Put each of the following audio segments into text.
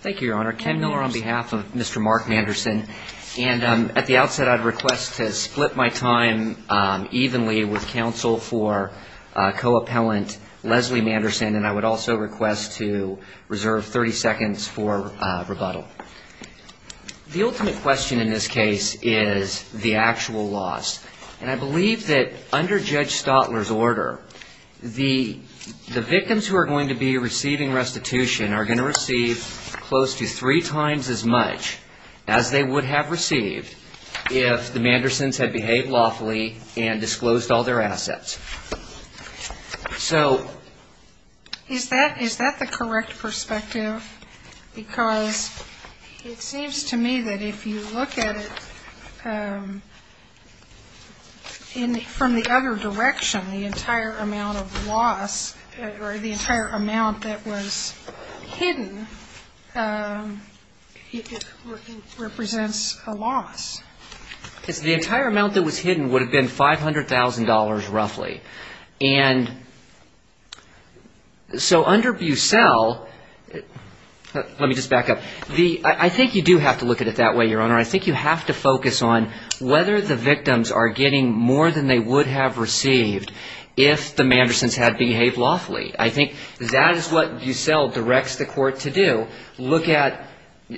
Thank you, Your Honor. Ken Miller on behalf of Mr. Mark Manderson. And at the outset, I'd request to split my time evenly with counsel for co-appellant Leslie Manderson. And I would also request to reserve 30 seconds for rebuttal. The ultimate question in this case is the actual loss. And I believe that under Judge Stotler's order, the victims who are going to be receiving restitution are going to receive close to three times as much as they would have received if the Mandersons had behaved lawfully and disclosed all their assets. So is that the correct perspective? Because it seems to me that if you look at it from the other direction, the entire amount of loss or the entire amount that was hidden represents a loss. The entire amount that was hidden would have been $500,000 roughly. And so under Bucell, let me just back up. I think you do have to look at it that way, Your Honor. I think you have to focus on whether the victims are getting more than they would have received if the Mandersons had behaved lawfully. I think that is what Bucell directs the Court to do, look at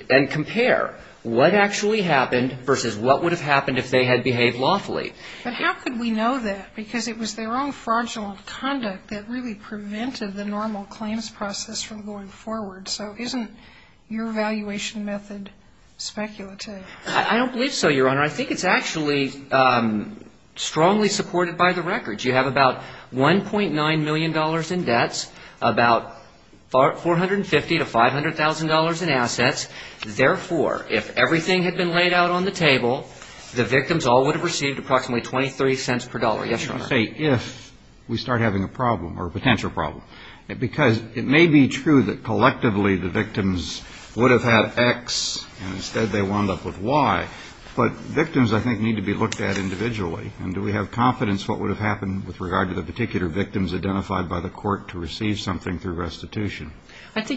and compare what actually happened versus what would have happened if they had behaved lawfully. But how could we know that? Because it was their own fraudulent conduct that really prevented the normal claims process from going forward. So isn't your evaluation method speculative? I don't believe so, Your Honor. I think it's actually strongly supported by the records. You have about $1.9 million in debts, about $450,000 to $500,000 in assets. Therefore, if everything had been laid out on the table, the victims all would have received approximately 23 cents per dollar. Yes, Your Honor. I think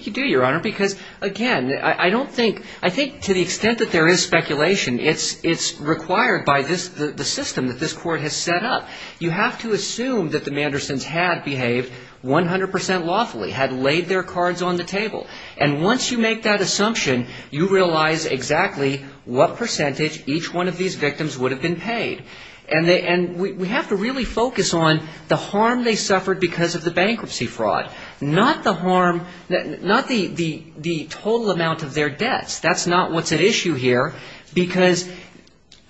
you do, Your Honor, because, again, I don't think – I think to the extent that there is speculation, it's required by this – the system that this Court has set up. You have to look at it that way. You have to assume that the Mandersons had behaved 100 percent lawfully, had laid their cards on the table. And once you make that assumption, you realize exactly what percentage each one of these victims would have been paid. And we have to really focus on the harm they suffered because of the bankruptcy fraud, not the harm – not the total amount of their debts. That's not what's at issue here because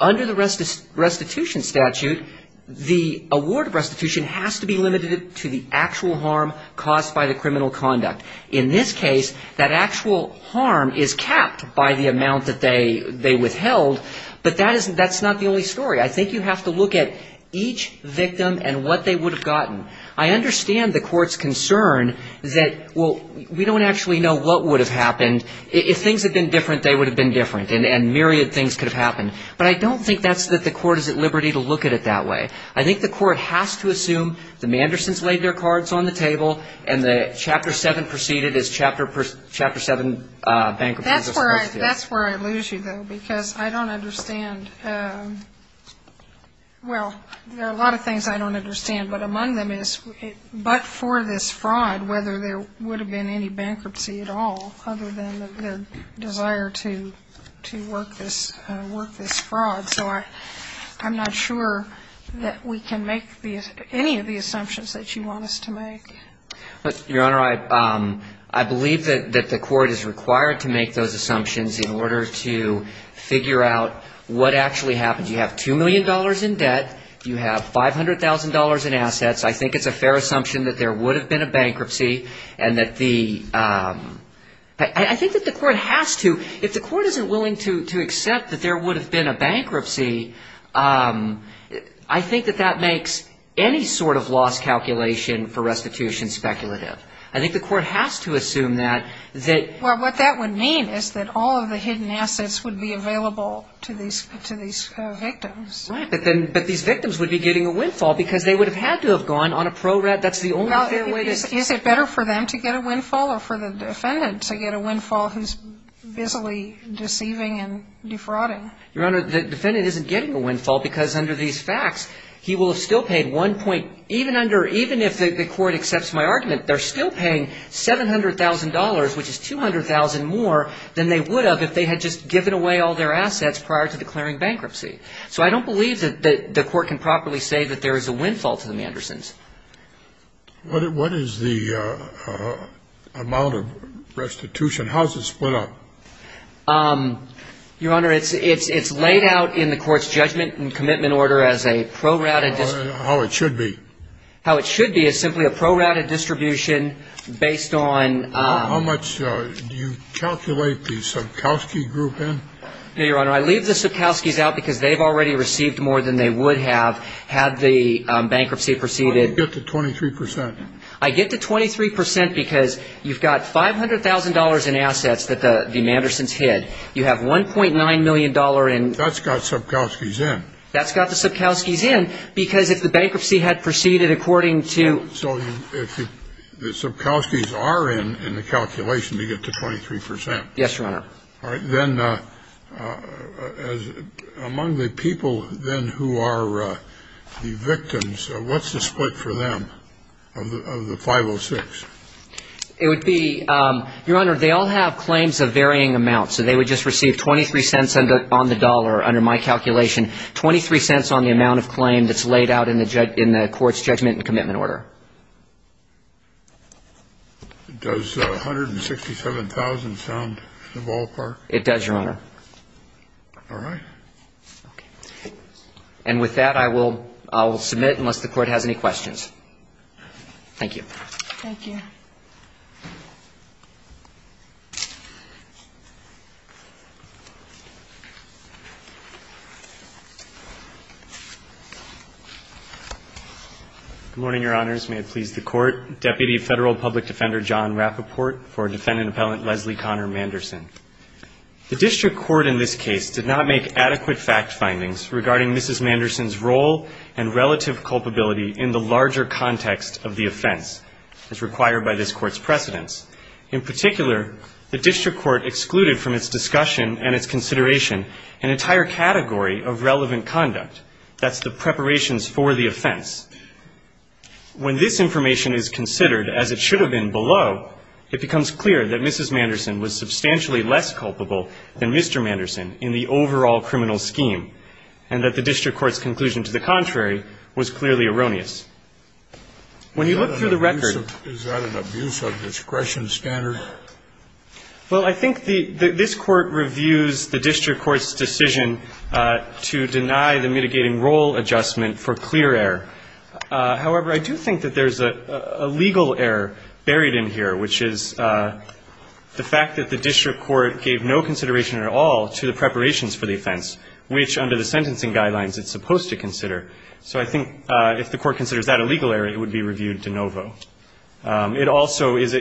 under the restitution statute, the award of restitution has to be limited to the actual harm caused by the criminal conduct. In this case, that actual harm is capped by the amount that they withheld, but that's not the only story. I think you have to look at each victim and what they would have gotten. I understand the Court's concern that, well, we don't actually know what would have happened. If things had been different, they would have been different, and myriad things could have happened. But I don't think that's – that the Court is at liberty to look at it that way. I think the Court has to assume the Mandersons laid their cards on the table and that Chapter 7 proceeded as Chapter 7 bankruptcies are supposed to. All right. That's where I lose you, though, because I don't understand – well, there are a lot of things I don't understand, but among them is, but for this fraud, whether there would have been any bankruptcy at all other than their desire to work this fraud. So I'm not sure that we can make any of the assumptions that you want us to make. Your Honor, I believe that the Court is required to make those assumptions in order to figure out what actually happened. You have $2 million in debt. You have $500,000 in assets. I think it's a fair assumption that there would have been a bankruptcy and that the – I think that the Court has to – if the Court isn't willing to accept that there would have been a bankruptcy, I think that that makes any sort of loss calculation for restitution. I think the Court has to assume that, that – Well, what that would mean is that all of the hidden assets would be available to these – to these victims. Right. But then – but these victims would be getting a windfall because they would have had to have gone on a pro-rat – that's the only fair way to – Well, is it better for them to get a windfall or for the defendant to get a windfall who's busily deceiving and defrauding? Your Honor, the defendant isn't getting a windfall because under these facts, he will have still paid one point – even under – even if the Court accepts my argument, they're still paying $700,000, which is $200,000 more than they would have if they had just given away all their assets prior to declaring bankruptcy. So I don't believe that the Court can properly say that there is a windfall to the Mandersons. What is the amount of restitution? How is it split up? Your Honor, it's – it's laid out in the Court's judgment and commitment order as a pro-rata – How it should be. How it should be is simply a pro-rata distribution based on – How much do you calculate the Subkowski Group in? No, Your Honor, I leave the Subkowskis out because they've already received more than they would have had the bankruptcy proceeded. How do you get to 23 percent? I get to 23 percent because you've got $500,000 in assets that the Mandersons hid. You have $1.9 million in – That's got Subkowskis in. That's got the Subkowskis in because if the bankruptcy had proceeded according to – So if the Subkowskis are in, in the calculation, you get to 23 percent. Yes, Your Honor. All right. Then among the people then who are the victims, what's the split for them of the 506? It would be – Your Honor, they all have claims of varying amounts, so they would just receive 23 cents on the dollar under my calculation, 23 cents on the amount of claim that's laid out in the Court's judgment and commitment order. Does $167,000 sound the ballpark? It does, Your Honor. All right. Okay. And with that, I will – I will submit unless the Court has any questions. Thank you. Thank you. Good morning, Your Honors. May it please the Court. Deputy Federal Public Defender John Rappaport for Defendant Appellant Leslie Connor Manderson. The District Court in this case did not make adequate fact findings regarding Mrs. in the larger context of the offense as required by this Court's precedents. In particular, the District Court excluded from its discussion and its consideration an entire category of relevant conduct. That's the preparations for the offense. When this information is considered as it should have been below, it becomes clear that Mrs. Manderson was substantially less culpable than Mr. Manderson in the overall criminal scheme, and that the District Court's conclusion to the contrary was clearly erroneous. When you look through the record – Is that an abuse of discretion standard? Well, I think this Court reviews the District Court's decision to deny the mitigating role adjustment for clear error. However, I do think that there's a legal error buried in here, which is the fact that the District Court gave no consideration at all to the preparations for the offense, which under the sentencing guidelines it's supposed to consider. So I think if the Court considers that a legal error, it would be reviewed de novo. It also is a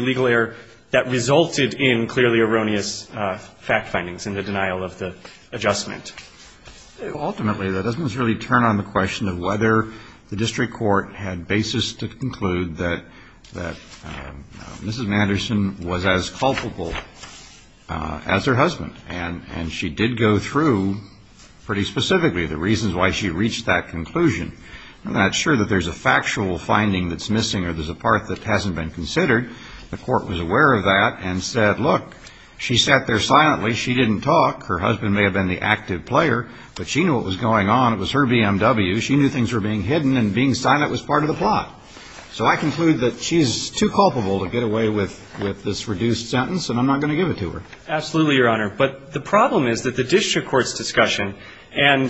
legal error that resulted in clearly erroneous fact findings in the denial of the adjustment. Ultimately, that doesn't necessarily turn on the question of whether the District Court had basis to conclude that Mrs. Manderson was as culpable as her husband. And she did go through pretty specifically the reasons why she reached that conclusion. I'm not sure that there's a factual finding that's missing or there's a part that hasn't been considered. The Court was aware of that and said, look, she sat there silently. She didn't talk. Her husband may have been the active player, but she knew what was going on. It was her BMW. So I conclude that she's too culpable to get away with this reduced sentence, and I'm not going to give it to her. Absolutely, Your Honor. But the problem is that the District Court's discussion, and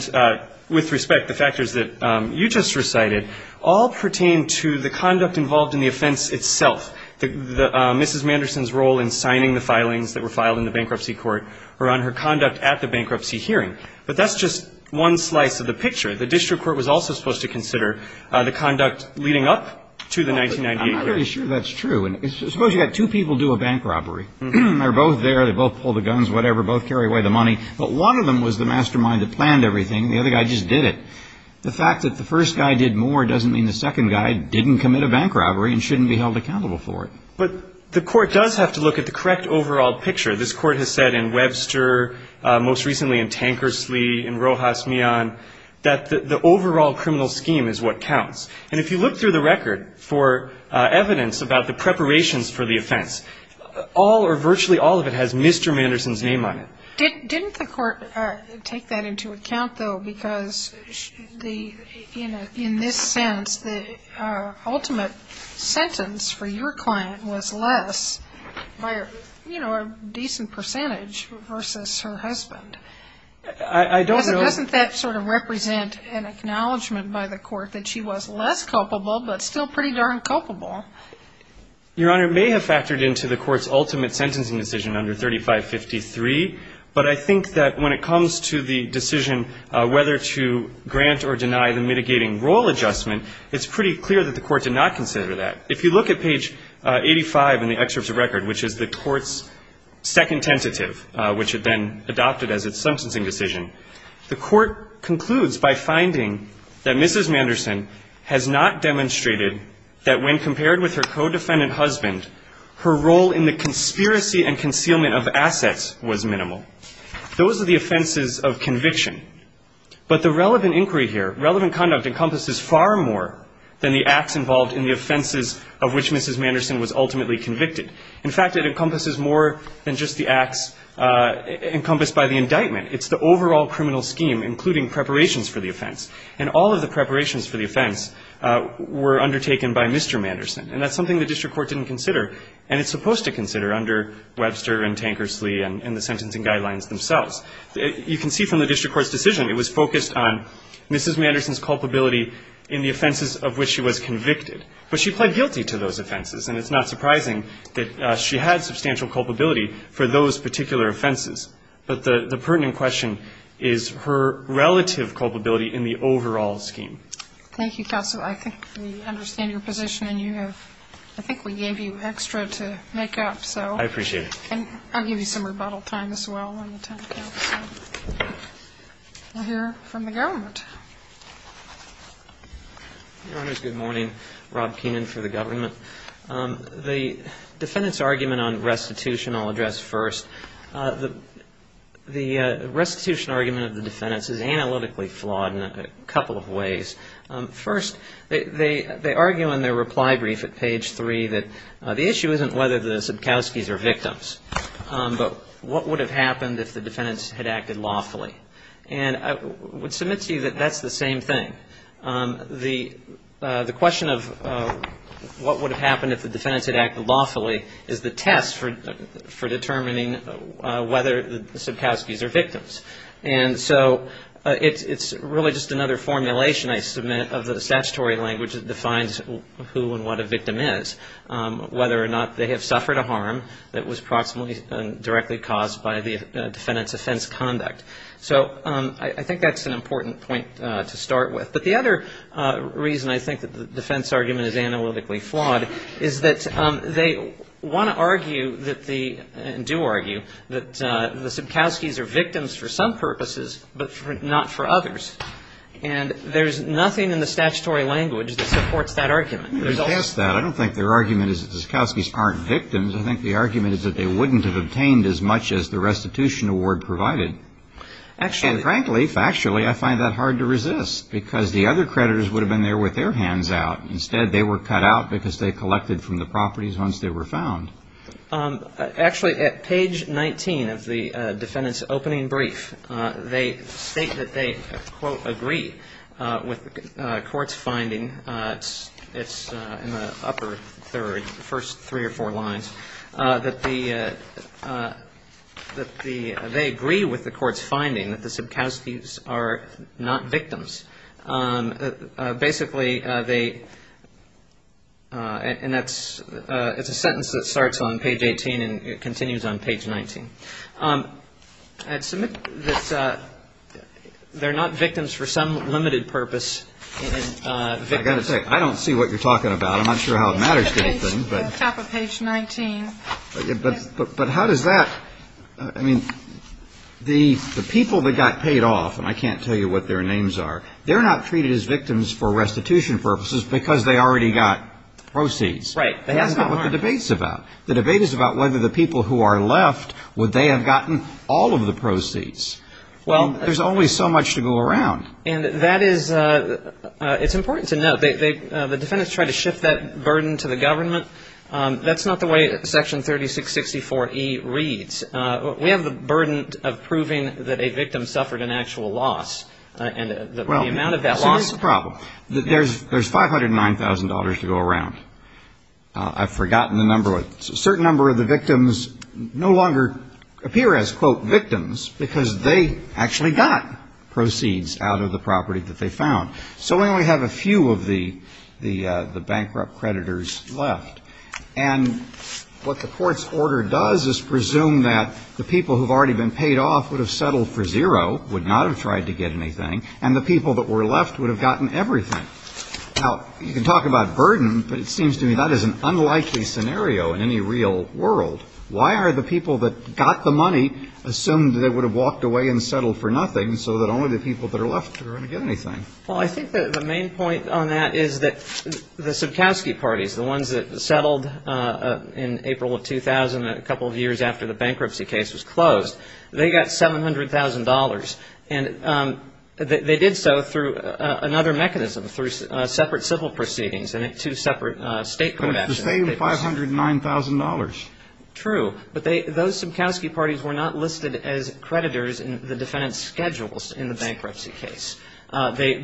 with respect, the factors that you just recited, all pertain to the conduct involved in the offense itself, Mrs. Manderson's role in signing the filings that were filed in the bankruptcy court or on her conduct at the bankruptcy hearing. But that's just one slice of the picture. The District Court was also supposed to consider the conduct leading up to the 1998 case. I'm pretty sure that's true. Suppose you have two people do a bank robbery. They're both there. They both pull the guns, whatever, both carry away the money. But one of them was the mastermind that planned everything. The other guy just did it. The fact that the first guy did more doesn't mean the second guy didn't commit a bank robbery and shouldn't be held accountable for it. But the Court does have to look at the correct overall picture. This Court has said in Webster, most recently in Tankersley, in Rojas Mian, that the overall criminal scheme is what counts. And if you look through the record for evidence about the preparations for the offense, all or virtually all of it has Mr. Manderson's name on it. Didn't the Court take that into account, though, because in this sense, the ultimate sentence for your client was less by a decent percentage versus her husband? Doesn't that sort of represent an acknowledgment by the Court that she was less culpable but still pretty darn culpable? Your Honor, it may have factored into the Court's ultimate sentencing decision under 3553, but I think that when it comes to the decision whether to grant or deny the mitigating role adjustment, it's pretty clear that the Court did not consider that. If you look at page 85 in the excerpt of the record, which is the Court's second tentative, which it then adopted as its sentencing decision, the Court concludes by finding that Mrs. Manderson has not demonstrated that when compared with her co-defendant husband, her role in the conspiracy and concealment of assets was minimal. Those are the offenses of conviction. But the relevant inquiry here, relevant conduct encompasses far more than the acts involved in the offenses of which Mrs. Manderson was ultimately convicted. In fact, it encompasses more than just the acts encompassed by the indictment. It's the overall criminal scheme, including preparations for the offense. And all of the preparations for the offense were undertaken by Mr. Manderson. And that's something the district court didn't consider, and it's supposed to consider under Webster and Tankersley and the sentencing guidelines themselves. You can see from the district court's decision, it was focused on Mrs. Manderson's culpability in the offenses of which she was convicted. But she pled guilty to those offenses, and it's not surprising that she had substantial culpability for those particular offenses. But the pertinent question is her relative culpability in the overall scheme. Thank you, counsel. I think we understand your position, and you have – I think we gave you extra to make up, so. I appreciate it. And I'll give you some rebuttal time, as well, when the time counts. We'll hear from the government. Your Honors, good morning. Rob Keenan for the government. The defendant's argument on restitution I'll address first. The restitution argument of the defendants is analytically flawed in a couple of ways. First, they argue in their reply brief at page 3 that the issue isn't whether the Subkowskis are victims, but what would have happened if the defendants had acted lawfully. And I would submit to you that that's the same thing. The question of what would have happened if the defendants had acted lawfully is the test for determining And so it's really just another formulation I submit of the statutory language that defines who and what a victim is, whether or not they have suffered a harm that was proximately and directly caused by the defendant's offense conduct. So I think that's an important point to start with. But the other reason I think that the defense argument is analytically flawed is that they want to argue that the – and do argue – that the Subkowskis are victims for some purposes, but not for others. And there's nothing in the statutory language that supports that argument. I don't think their argument is that the Subkowskis aren't victims. I think the argument is that they wouldn't have obtained as much as the restitution award provided. And frankly, factually, I find that hard to resist because the other creditors would have been there with their hands out. Instead, they were cut out because they collected from the properties once they were found. Actually, at page 19 of the defendant's opening brief, they state that they, quote, agree with the court's finding – it's in the upper third, the first three or four lines – that they agree with the court's finding that the Subkowskis are not victims. Basically, they – and that's – it's a sentence that starts on page 18 and continues on page 19. I'd submit that they're not victims for some limited purpose. I've got to say, I don't see what you're talking about. I'm not sure how it matters to anything. But how does that – I mean, the people that got paid off, and I can't tell you what their names are, they're not treated as victims for restitution purposes because they already got proceeds. Right. That's not what the debate's about. The debate is about whether the people who are left, would they have gotten all of the proceeds. There's always so much to go around. And that is – it's important to note, the defendants try to shift that burden to the government. That's not the way Section 3664E reads. We have the burden of proving that a victim suffered an actual loss and the amount of that loss. Well, here's the problem. There's $509,000 to go around. I've forgotten the number. A certain number of the victims no longer appear as, quote, victims because they actually got proceeds out of the property that they found. So we only have a few of the bankrupt creditors left. And what the court's order does is presume that the people who have already been paid off would have settled for zero, would not have tried to get anything, and the people that were left would have gotten everything. Now, you can talk about burden, but it seems to me that is an unlikely scenario in any real world. Why are the people that got the money assumed that they would have walked away and settled for nothing, so that only the people that are left are going to get anything? Well, I think the main point on that is that the Sobkowski parties, the ones that settled in April of 2000, a couple of years after the bankruptcy case was closed, they got $700,000. And they did so through another mechanism, through separate civil proceedings and two separate state court actions. But it's the same $509,000. True. But those Sobkowski parties were not listed as creditors in the defendant's schedules in the bankruptcy case. They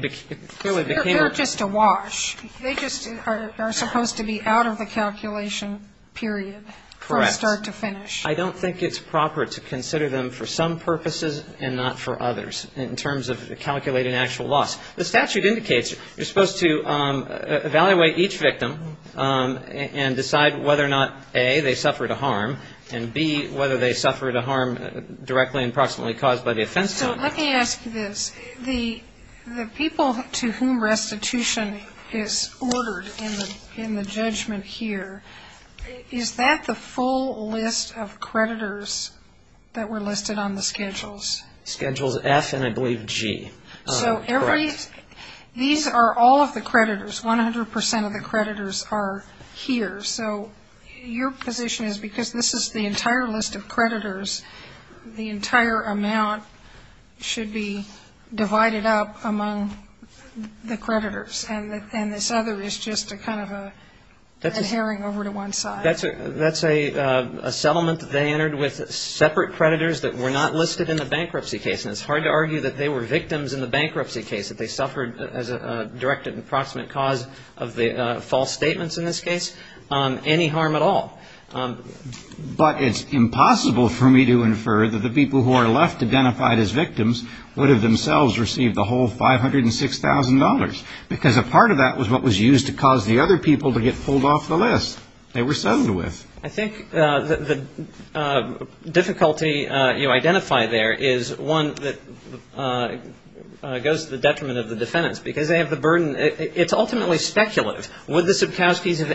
clearly became a ---- They're just a wash. They just are supposed to be out of the calculation, period, from start to finish. Correct. I don't think it's proper to consider them for some purposes and not for others in terms of calculating actual loss. The statute indicates you're supposed to evaluate each victim and decide whether or not, A, they suffered a harm, and, B, whether they suffered a harm directly and proximately caused by the offense. So let me ask you this. The people to whom restitution is ordered in the judgment here, is that the full list of creditors that were listed on the schedules? Schedules F and, I believe, G. So every ---- Correct. These are all of the creditors. One hundred percent of the creditors are here. So your position is because this is the entire list of creditors, the entire amount should be divided up among the creditors, and this other is just a kind of a herring over to one side? That's a settlement that they entered with separate creditors that were not listed in the bankruptcy case. And it's hard to argue that they were victims in the bankruptcy case, that they suffered as a direct and proximate cause of the false statements in this case. Any harm at all. But it's impossible for me to infer that the people who are left identified as victims would have themselves received the whole $506,000, because a part of that was what was used to cause the other people to get pulled off the list. They were sued with. I think the difficulty you identify there is one that goes to the detriment of the defendants, because they have the burden. It's ultimately speculative. Would the Sikowskis have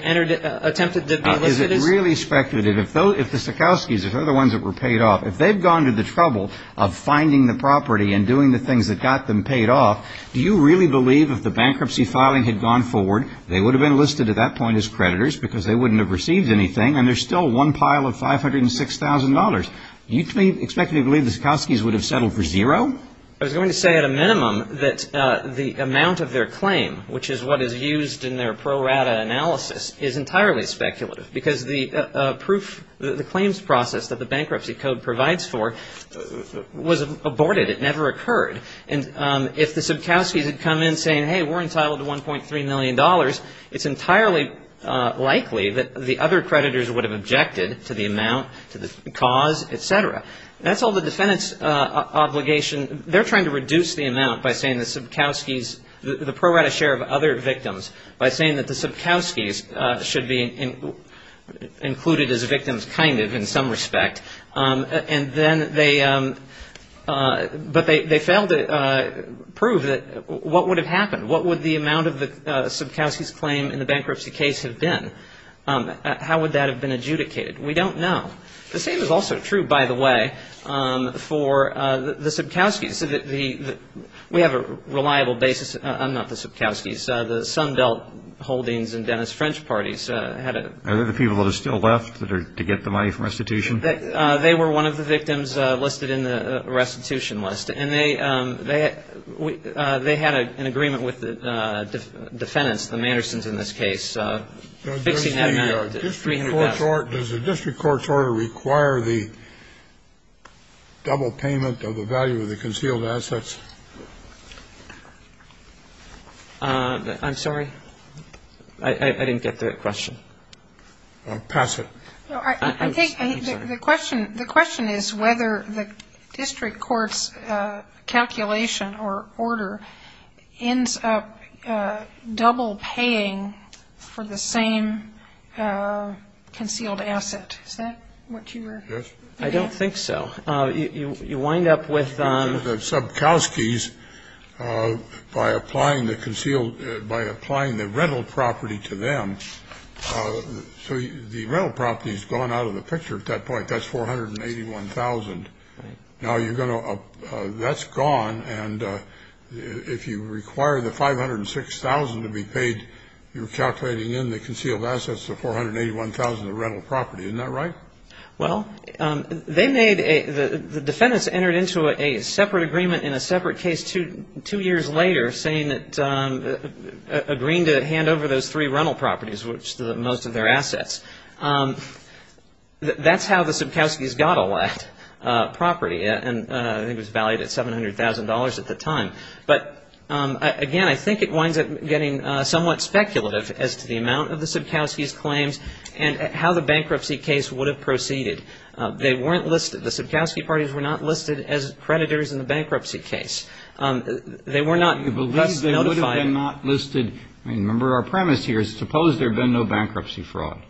attempted to be listed as ---- Is it really speculative? If the Sikowskis, if they're the ones that were paid off, if they've gone to the trouble of finding the property and doing the things that got them paid off, do you really believe if the bankruptcy filing had gone forward, they would have been listed at that point as creditors because they wouldn't have received anything, and there's still one pile of $506,000? Do you expect to believe the Sikowskis would have settled for zero? I was going to say at a minimum that the amount of their claim, which is what is used in their pro rata analysis, is entirely speculative, because the claims process that the bankruptcy code provides for was aborted. It never occurred. And if the Sikowskis had come in saying, hey, we're entitled to $1.3 million, it's entirely likely that the other creditors would have objected to the amount, to the cause, et cetera. That's all the defendants' obligation. They're trying to reduce the amount by saying the Sikowskis, the pro rata share of other victims, by saying that the Sikowskis should be included as victims, kind of, in some respect. And then they failed to prove that what would have happened? What would the amount of the Sikowskis' claim in the bankruptcy case have been? How would that have been adjudicated? We don't know. The same is also true, by the way, for the Sikowskis. We have a reliable basis. I'm not the Sikowskis. The Sundelt Holdings and Dennis French Parties had a ---- Are they the people that are still left that are to get the money from restitution? They were one of the victims listed in the restitution list. And they had an agreement with the defendants, the Mandersons in this case, fixing that amount. Does the district court's order require the double payment of the value of the concealed assets? I'm sorry? I didn't get that question. Pass it. I'm sorry. The question is whether the district court's calculation or order ends up double paying for the same concealed asset. Is that what you were ---- Yes. I don't think so. You wind up with ---- The Sikowskis, by applying the concealed ---- by applying the rental property to them, so the rental property has gone out of the picture at that point. That's $481,000. Now you're going to ---- that's gone. And if you require the $506,000 to be paid, you're calculating in the concealed assets the $481,000 of rental property. Isn't that right? Well, they made a ---- the defendants entered into a separate agreement in a separate case two years later saying that agreeing to hand over those three rental properties, which are most of their assets. That's how the Sikowskis got all that property. And I think it was valued at $700,000 at the time. But, again, I think it winds up getting somewhat speculative as to the amount of the Sikowskis' claims and how the bankruptcy case would have proceeded. They weren't listed. The Sikowskis' parties were not listed as creditors in the bankruptcy case. They were not ---- You believe they would have been not listed. I mean, remember our premise here is suppose there had been no bankruptcy fraud.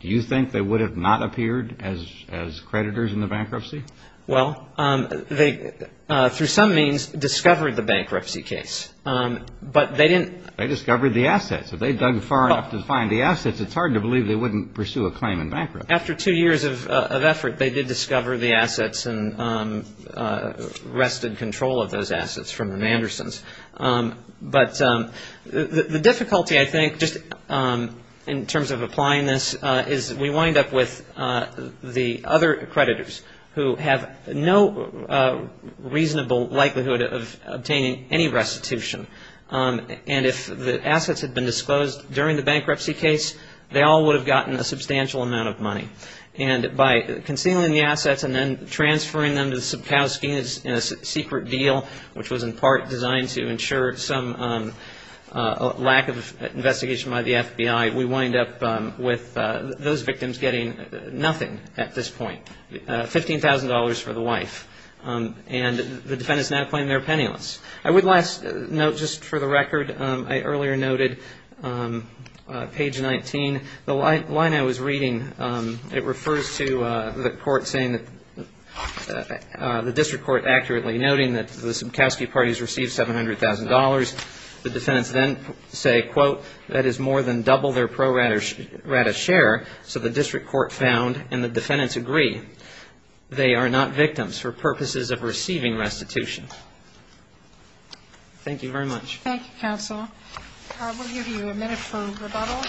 Do you think they would have not appeared as creditors in the bankruptcy? Well, they, through some means, discovered the bankruptcy case. But they didn't ---- They discovered the assets. If they dug far enough to find the assets, it's hard to believe they wouldn't pursue a claim in bankruptcy. After two years of effort, they did discover the assets and wrested control of those assets from the Mandersons. But the difficulty, I think, just in terms of applying this, is we wind up with the other creditors who have no reasonable likelihood of obtaining any restitution. And if the assets had been disclosed during the bankruptcy case, they all would have gotten a substantial amount of money. And by concealing the assets and then transferring them to the Sikowskis in a secret deal, which was in part designed to ensure some lack of investigation by the FBI, we wind up with those victims getting nothing at this point, $15,000 for the wife. And the defendants now claim they're penniless. I would last note, just for the record, I earlier noted, page 19, the line I was reading, it refers to the court saying that the district court accurately noting that the Sikowski parties received $700,000. The defendants then say, quote, that is more than double their pro rata share. So the district court found, and the defendants agree, they are not victims for purposes of receiving restitution. Thank you very much. Thank you, counsel. We'll give you a minute for rebuttal.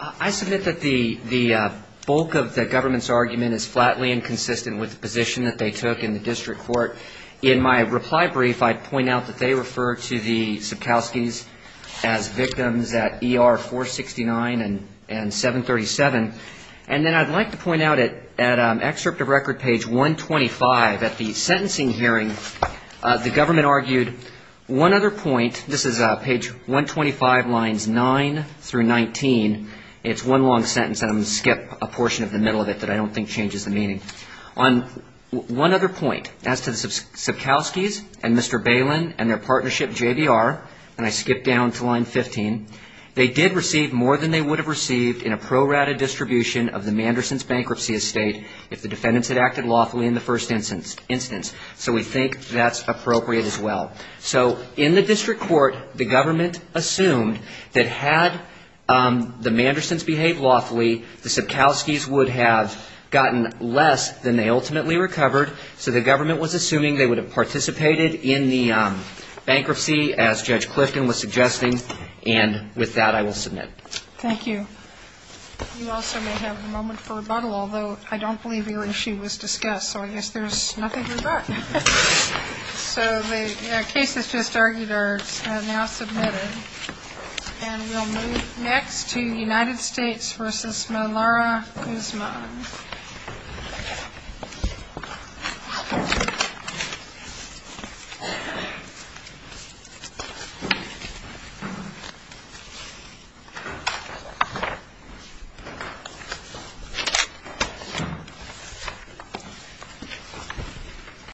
I submit that the bulk of the government's argument is flatly inconsistent with the position that they took in the district court. In my reply brief, I point out that they refer to the Sikowskis as victims at ER 469 and 737. And then I'd like to point out at excerpt of record, page 125, at the sentencing hearing, the government argued one other point. This is page 125, lines 9 through 19. It's one long sentence, and I'm going to skip a portion of the middle of it that I don't think changes the meaning. On one other point, as to the Sikowskis and Mr. Balin and their partnership JBR, and I skip down to line 15, they did receive more than they would have received in a pro rata distribution of the Manderson's bankruptcy estate if the defendants had acted lawfully in the first instance. So we think that's appropriate as well. So in the district court, the government assumed that had the Mandersons behaved lawfully, the Sikowskis would have gotten less than they ultimately recovered. So the government was assuming they would have participated in the bankruptcy as Judge Clifton was suggesting. And with that, I will submit. Thank you. You also may have a moment for rebuttal, although I don't believe the issue was discussed. So I guess there's nothing to rebut. So the cases just argued are now submitted. And we'll move next to United States v. Malara Guzman.